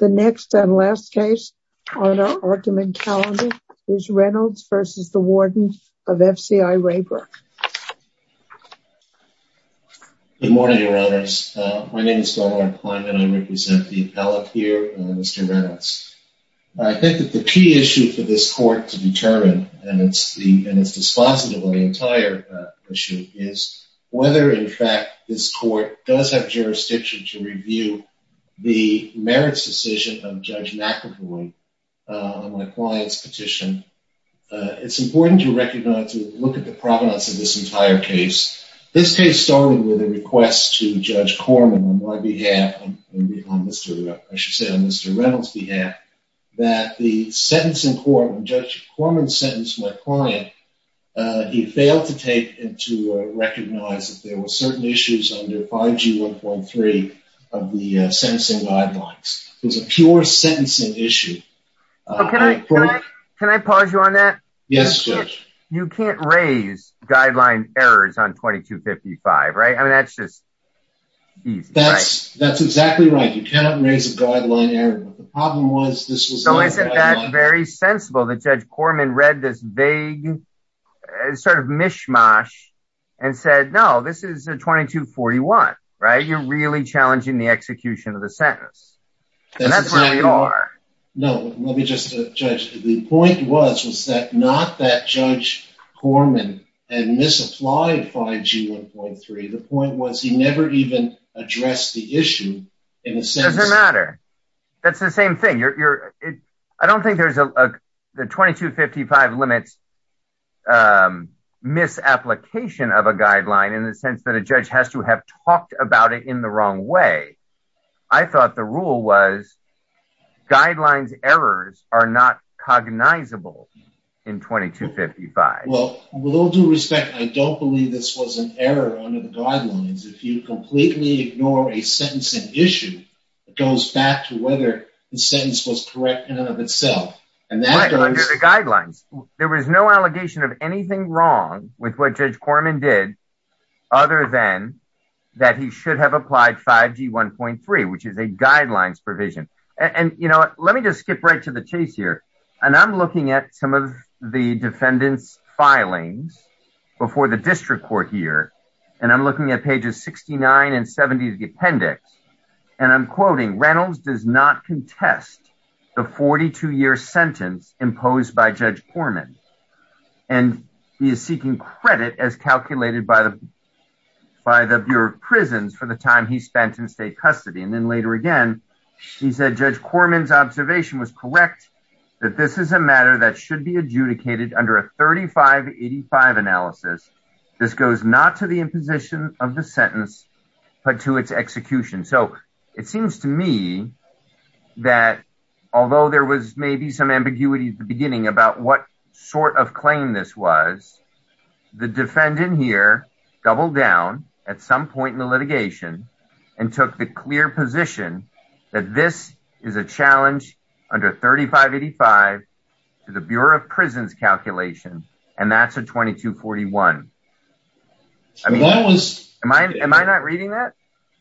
The next and last case on our argument calendar is Reynolds v. Warden of FCI Raybrook. Good morning, your honors. My name is Donald R. Klein and I represent the appellate here, Mr. Reynolds. I think that the key issue for this court to determine, and it's the and it's dispositive of the entire issue, is whether in fact this court does have jurisdiction to review the merits decision of Judge McEvoy on my client's petition. It's important to recognize, to look at the provenance of this entire case. This case started with a request to Judge Corman on my behalf, I should say on Mr. Reynolds' behalf, that the sentence in court, when Judge Corman sentenced my client, he failed to take and to recognize that there were certain issues under 5G 1.3 of the sentencing guidelines. It was a pure sentencing issue. Can I pause you on that? Yes, Judge. You can't raise guideline errors on 2255, right? I mean, that's just easy. That's exactly right. You cannot raise a guideline error. The problem was this was... So isn't that very sensible that Judge Corman read this vague sort of mishmash and said, no, this is a 2241, right? You're really challenging the execution of the sentence. No, let me just, Judge. The point was, was that not that Judge Corman had misapplied 5G 1.3. The point was he never even addressed the issue in a sense. It doesn't matter. That's the same thing. I don't think there's a 2255 limit on misapplication of a guideline in the sense that a judge has to have talked about it in the wrong way. I thought the rule was guidelines errors are not cognizable in 2255. Well, with all due respect, I don't believe this was an error under the guidelines. If you completely ignore a sentencing issue, it goes back to whether the sentence was correct in and of itself. Under the guidelines, there was no allegation of anything wrong with what Judge Corman did other than that he should have applied 5G 1.3, which is a guidelines provision. And, you know, let me just skip right to the chase here. And I'm looking at some of the defendant's filings before the district court here. And I'm looking at pages 69 and 70 of the sentence imposed by Judge Corman. And he is seeking credit as calculated by the Bureau of Prisons for the time he spent in state custody. And then later again, he said Judge Corman's observation was correct, that this is a matter that should be adjudicated under a 3585 analysis. This goes not to the imposition of the sentence, but to its execution. So it seems to me that although there was maybe some ambiguity at the beginning about what sort of claim this was, the defendant here doubled down at some point in the litigation and took the clear position that this is a challenge under 3585 to the Bureau of Prisons calculation. And that's a 2241. Am I not reading that?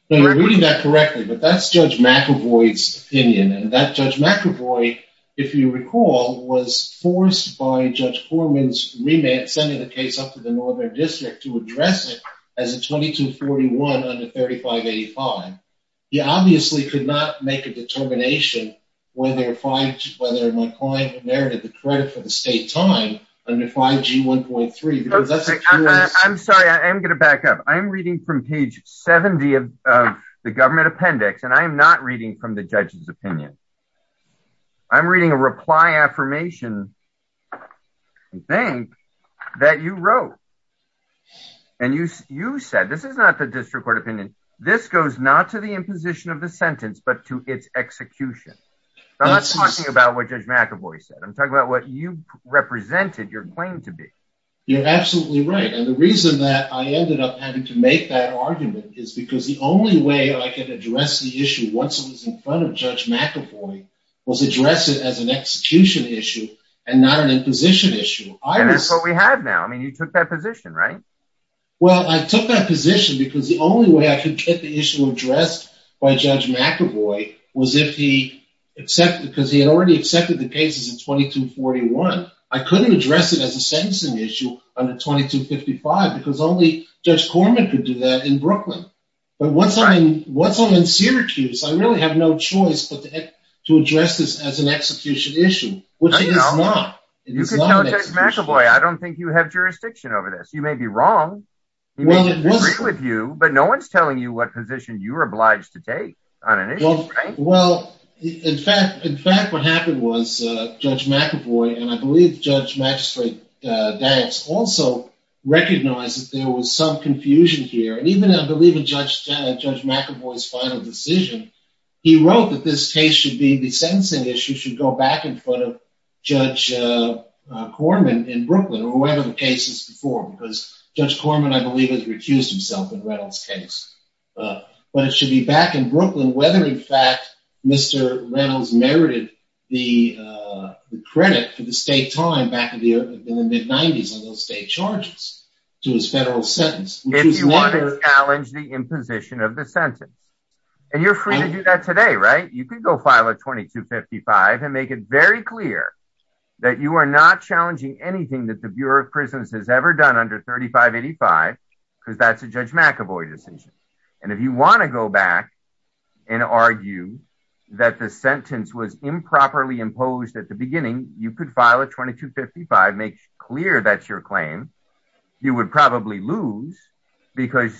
No, you're reading that correctly. But that's Judge McAvoy's opinion. And that Judge McAvoy, if you recall, was forced by Judge Corman's remand, sending the case up to the northern district to address it as a 2241 under 3585. He obviously could not make a determination whether my client inherited the credit for the state time under 5G1.3. I'm sorry, I'm going to back up. I'm reading from page 70 of the government appendix, and I'm not reading from the judge's opinion. I'm reading a reply affirmation, I think, that you wrote. And you said, this is not the district court opinion, this goes not to the imposition of the sentence, but to its execution. I'm not talking about what Judge McAvoy said. I'm talking about what you represented your claim to be. You're absolutely right. And the reason that I ended up having to make that argument is because the only way I could address the issue once it was in front of Judge McAvoy was address it as an execution issue and not an imposition issue. And that's what we have now. I mean, you took that position, right? Well, I took that position because the only way I could get the issue addressed by Judge McAvoy was if he accepted, because he had already accepted the cases in 2241. I couldn't address it as a sentencing issue under 2255 because only Judge Corman could do that in Brooklyn. But once I'm in Syracuse, I really have no choice but to address this as an execution issue, which it is not. You could tell Judge McAvoy, I don't think have jurisdiction over this. You may be wrong. He may disagree with you, but no one's telling you what position you're obliged to take on an issue, right? Well, in fact, what happened was Judge McAvoy, and I believe Judge Magistrate Dax also recognized that there was some confusion here. And even, I believe, in Judge McAvoy's final decision, he wrote that this case should be the sentencing issue should go back in front of Judge Corman in Brooklyn or whatever the case is before, because Judge Corman, I believe, has recused himself in Reynolds' case. But it should be back in Brooklyn, whether in fact Mr. Reynolds merited the credit for the state time back in the mid-90s on those state charges to his federal sentence. If you want to challenge the imposition of the sentence, and you're free to do that today, right? You could go file a 2255 and make it very clear that you are not challenging anything that the Bureau of Prisons has ever done under 3585, because that's a Judge McAvoy decision. And if you want to go back and argue that the sentence was improperly imposed at the beginning, you could file a 2255, make clear that's your claim. You would probably lose, because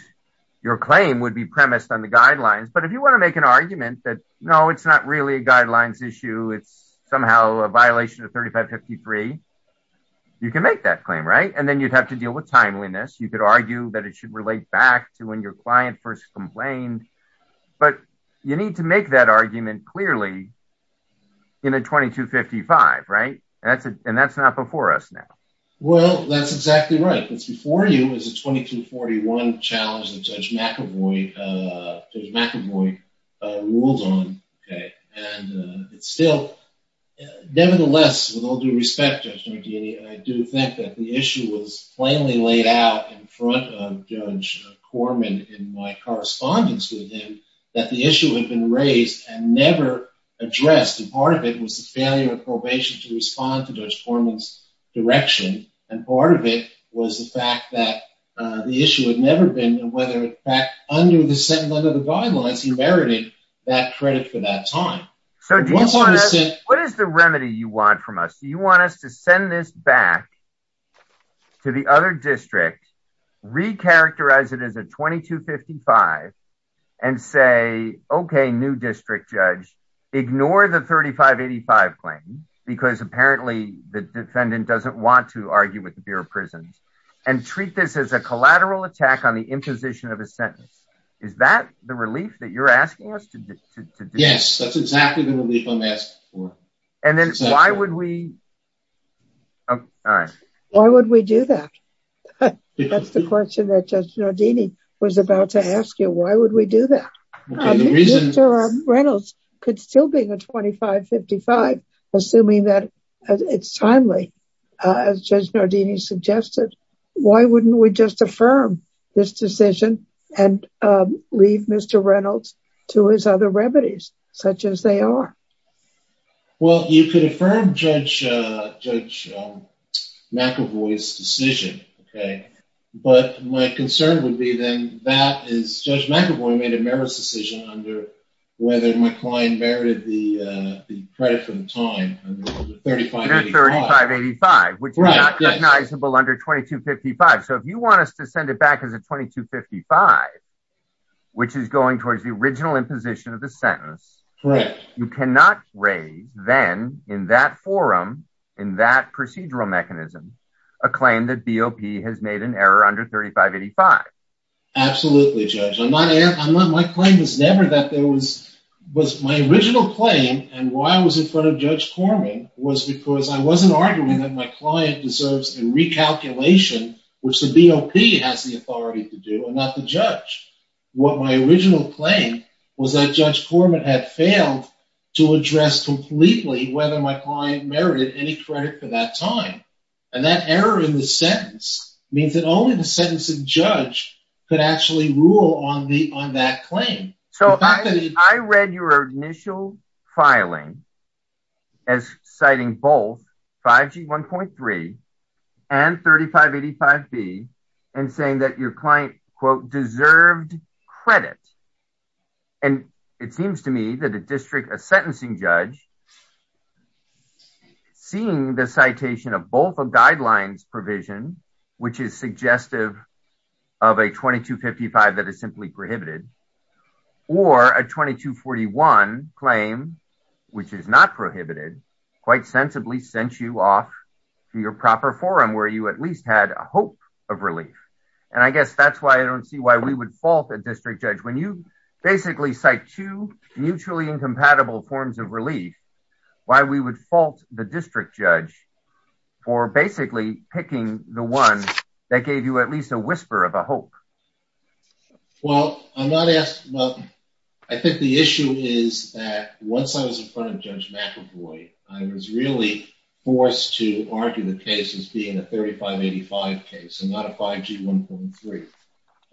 your claim would be premised on the guidelines. But if you want to make an argument that, no, it's not really a guidelines issue, it's somehow a violation of 3553, you can make that claim, right? And then you'd have to deal with timeliness. You could argue that it should relate back to when your client first complained. But you need to make that argument clearly in a 2255, right? And that's not before us now. Well, that's exactly right. What's before you is a 2241 challenge that Judge McAvoy ruled on, okay? And it's still, nevertheless, with all due respect, Judge Nardini, I do think that the issue was plainly laid out in front of Judge Corman in my correspondence with him, that the issue had been raised and never addressed. And part of it was the failure of probation to respond to Judge Corman's direction. And part of it was the fact that the issue had never been, and whether, in fact, under the guidelines, he merited that credit for that time. What is the remedy you want from us? Do you want us to send this back to the other district, recharacterize it as a 2255, and say, okay, new district judge, ignore the 3585 claim, because apparently the defendant doesn't want to argue with the Bureau of Prisons, and treat this as a collateral attack on the imposition of a sentence? Is that the relief that you're asking us to do? Yes, that's exactly the relief I'm asking for. And then why would we? Why would we do that? That's the question that Judge Nardini was about to ask you, why would we do that? Mr. Reynolds could still be the 2555, assuming that it's timely, as Judge Nardini suggested. Why wouldn't we just affirm this decision and leave Mr. Reynolds to his other remedies, such as they are? Well, you could affirm Judge McEvoy's decision, okay, but my concern would be, then, that is Judge McEvoy made a meritorious decision under whether my client merited the credit for the time under 3585. Under 3585, which is not recognizable under 2255, so if you want us to send it back as a 2255, which is going towards the original imposition of the sentence, you cannot raise, then, in that forum, in that procedural mechanism, a claim that BOP has made an error under 3585. Absolutely, Judge. My claim was never that there was, my original claim, and why I was in front of Judge Corman, was because I wasn't arguing that my client deserves a recalculation, which the BOP has the authority to do, and not the judge. What my original claim was that Judge Corman had failed to address completely whether my client merited any credit for that time, and that error in the sentence means that only the sentencing judge could actually rule on that claim. So, I read your initial filing as citing both 5G 1.3 and 3585B, and saying that your client, quote, deserved credit, and it seems to me that a district, a sentencing judge, seeing the citation of both a guidelines provision, which is suggestive of a 2255 that is simply prohibited, or a 2241 claim, which is not prohibited, quite sensibly sent you off to your proper forum, where you at least had a hope of relief, and I guess that's why I don't see why we would fault a district judge. When you basically cite two mutually incompatible forms of relief, why we would fault the district judge for basically picking the one that gave you at least a whisper of a hope? Well, I'm not asking, well, I think the issue is that once I was in front of Judge McAvoy, I was really forced to argue the case as being a 3585 case, and not a 5G 1.3.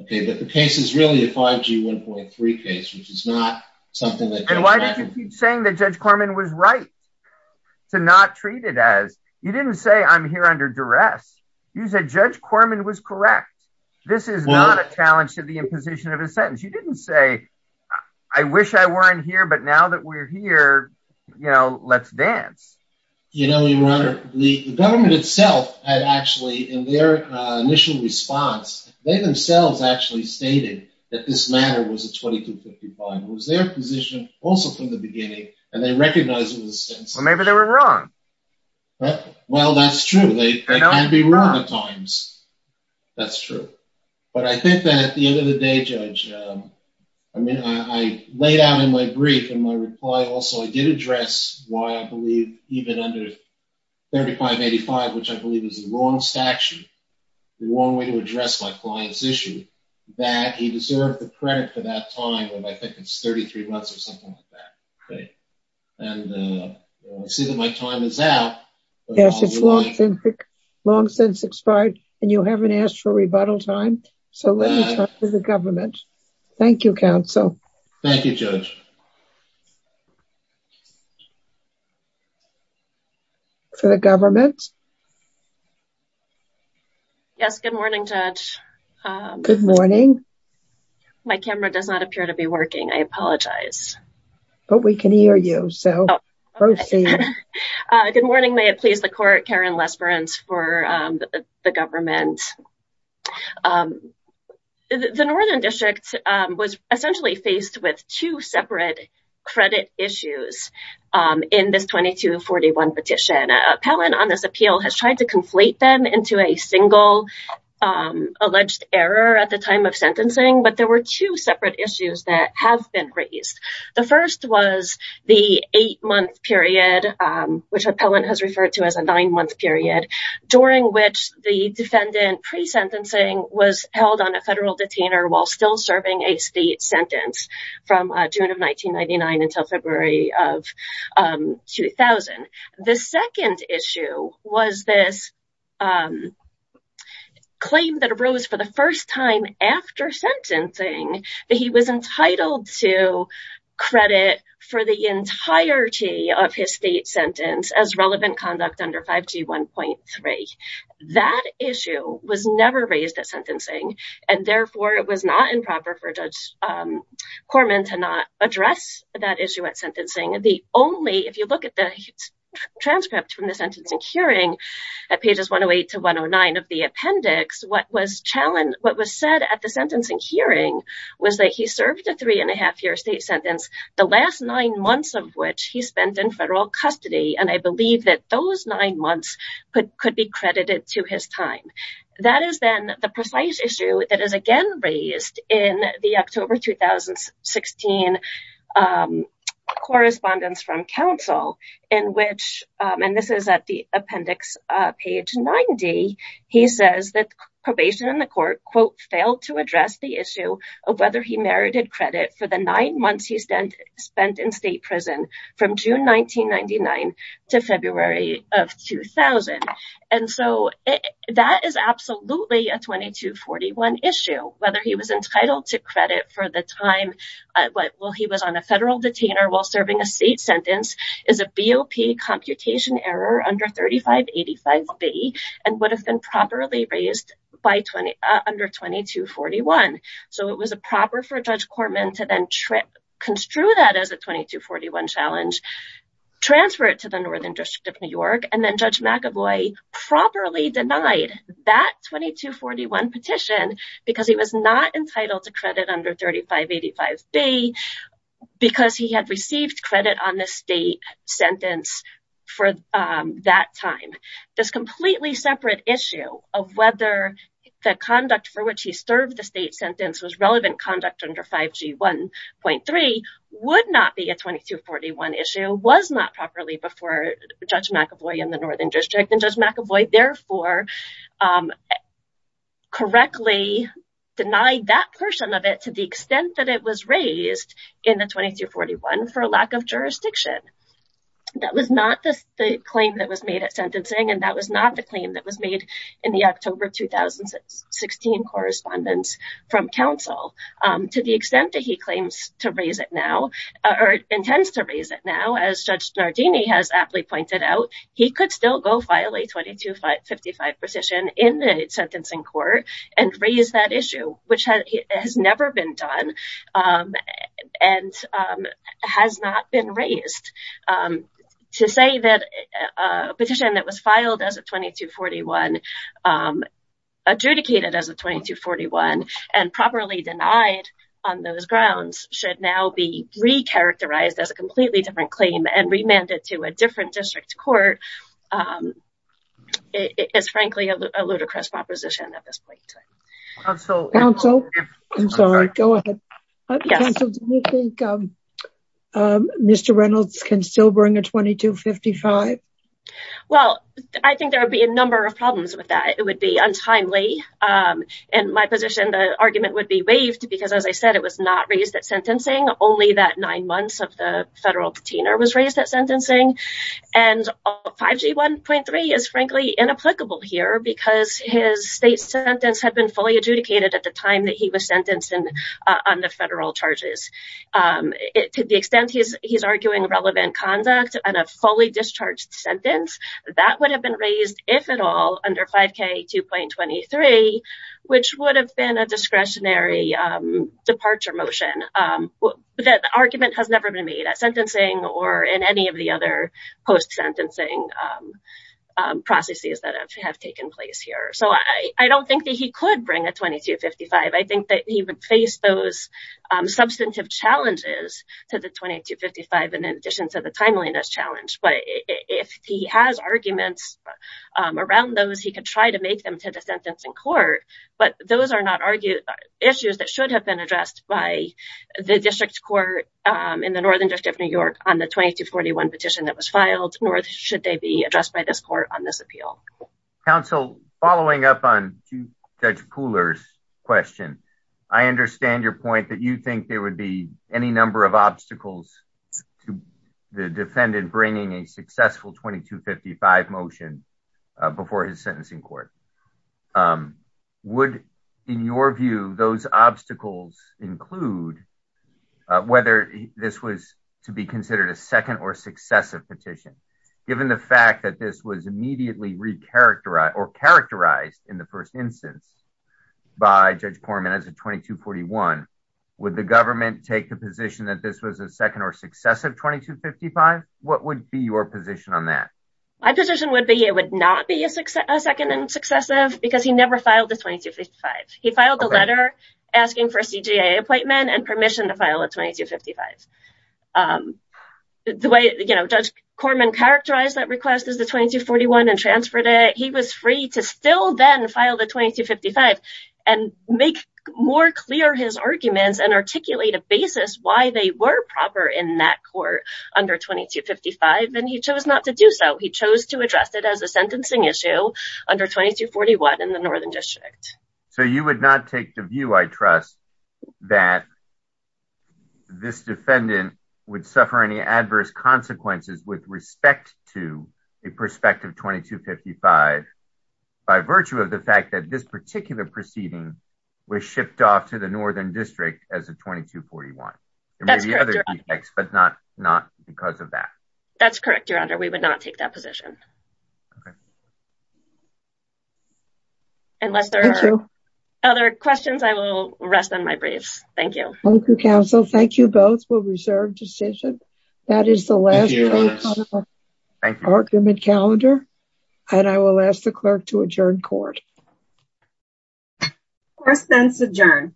Okay, but the case is really a 5G 1.3 case, which is not something that... And why did you keep saying that Judge Corman was right to not treat it as, you didn't say I'm here under duress, you said Judge Corman was correct. This is not a challenge to the imposition of a sentence. You didn't say, I wish I weren't here, but now that we're here, you know, let's dance. You know, Your Honor, the government itself had actually, in their initial response, they themselves actually stated that this matter was a 2255. It was their position also from the beginning, and they recognized it was a sentence. Well, maybe they were But I think that at the end of the day, Judge, I mean, I laid out in my brief and my reply also, I did address why I believe even under 3585, which I believe is a long statute, the long way to address my client's issue, that he deserved the credit for that time, and I think it's 33 months or something like that. Okay. And I see that my time is out. Yes, it's long since expired, and you haven't asked for rebuttal time. So let me talk to the government. Thank you, counsel. Thank you, Judge. For the government. Yes, good morning, Judge. Good morning. My camera does not appear to be working. I apologize. But we can hear you, so proceed. Good morning. May it please the court, Karen Lesperance for the government. The Northern District was essentially faced with two separate credit issues in this 2241 petition. Appellant on this appeal has tried to conflate them into a single alleged error at the time of sentencing, but there were two separate issues that have been raised. The first was the eight-month period, which appellant has referred to as a nine-month period, during which the defendant pre-sentencing was held on a federal detainer while still serving a state sentence from June of 1999 until February of 2000. The second issue was this claim that arose for the first time after sentencing that he was entitled to credit for the entirety of his state sentence as relevant conduct under 5G 1.3. That issue was never raised at sentencing, and therefore it was not improper for Judge Corman to not address that issue at sentencing. The only, if you look at the transcript from the sentencing hearing at pages 108 to 109 of the appendix, what was said at the sentencing hearing was that he served a three-and-a-half-year state sentence, the last nine months of which he spent in federal custody, and I believe that those nine months could be credited to his time. That is then the precise issue that is again raised in the October 2016 correspondence from appendix page 90. He says that probation in the court, quote, failed to address the issue of whether he merited credit for the nine months he spent in state prison from June 1999 to February of 2000, and so that is absolutely a 2241 issue. Whether he was entitled to credit for the time while he was on a federal detainer while serving a state sentence is a BOP computation error under 3585B and would have been properly raised under 2241, so it was improper for Judge Corman to then construe that as a 2241 challenge, transfer it to the Northern District of New York, and then Judge McAvoy properly denied that 2241 petition because he was not entitled to credit under 3585B because he had received credit on the state sentence for that time. This completely separate issue of whether the conduct for which he served the state sentence was relevant conduct under 5G 1.3 would not be a 2241 issue, was not properly before Judge McAvoy in the Northern District of New York, and that was not the claim that was made at sentencing, and that was not the claim that was made in the October of 2016 correspondence from counsel. To the extent that he claims to raise it now, or intends to raise it now, as Judge Nardini has aptly pointed out, he could still go file a 2255 petition in the sentencing court and raise that issue, which has never been done and has not been raised. To say that a petition that was filed as a 2241, adjudicated as a 2241, and properly denied on those grounds should now be re-characterized as a completely different claim and remanded to a different district court is frankly a I'm sorry, go ahead. Counsel, do you think Mr. Reynolds can still bring a 2255? Well, I think there would be a number of problems with that. It would be untimely. In my position, the argument would be waived because, as I said, it was not raised at sentencing, only that nine months of the federal patina was raised at sentencing, and 5G 1.3 is frankly inapplicable here because his state sentence had been fully adjudicated at the time that he was sentenced on the federal charges. To the extent he's arguing relevant conduct on a fully discharged sentence, that would have been raised, if at all, under 5K 2.23, which would have been a discretionary departure motion. That argument has never been made at sentencing or in any of the other post-sentencing processes that have taken place here, so I don't think that he could bring a 2255. I think that he would face those substantive challenges to the 2255 in addition to the timeliness challenge, but if he has arguments around those, he could try to make them to the sentencing court, but those are not issues that should have been addressed by the district court in the northern district of New York on the 2241 petition that was filed, nor should they be addressed by this court on this appeal. Counsel, following up on Judge Pooler's question, I understand your point that you think there would be any number of obstacles to the defendant bringing a successful 2255 motion before his sentencing court. Would, in your view, those obstacles include whether this was to be considered a second or successive petition? Given the fact that this was immediately re-characterized or characterized in the first instance by Judge Poorman as a 2241, would the government take the position that this was a second or successive 2255? What would be your position on that? My position would be it would not be a second and successive because he never filed the 2255. He filed a letter asking for a permission to file a 2255. The way Judge Corman characterized that request as the 2241 and transferred it, he was free to still then file the 2255 and make more clear his arguments and articulate a basis why they were proper in that court under 2255, and he chose not to do so. He chose to address it as a sentencing issue under 2241 in the northern district. So you would not take the view, I trust, that this defendant would suffer any adverse consequences with respect to a prospective 2255 by virtue of the fact that this particular proceeding was shipped off to the northern district as a 2241. There may be other defects, but not because of that. That's correct, Your Honor. We would not take that position. Okay. Unless there are other questions, I will rest on my briefs. Thank you. Thank you, counsel. Thank you both for reserved decision. That is the last argument calendar, and I will ask the clerk to adjourn court. Court is then adjourned.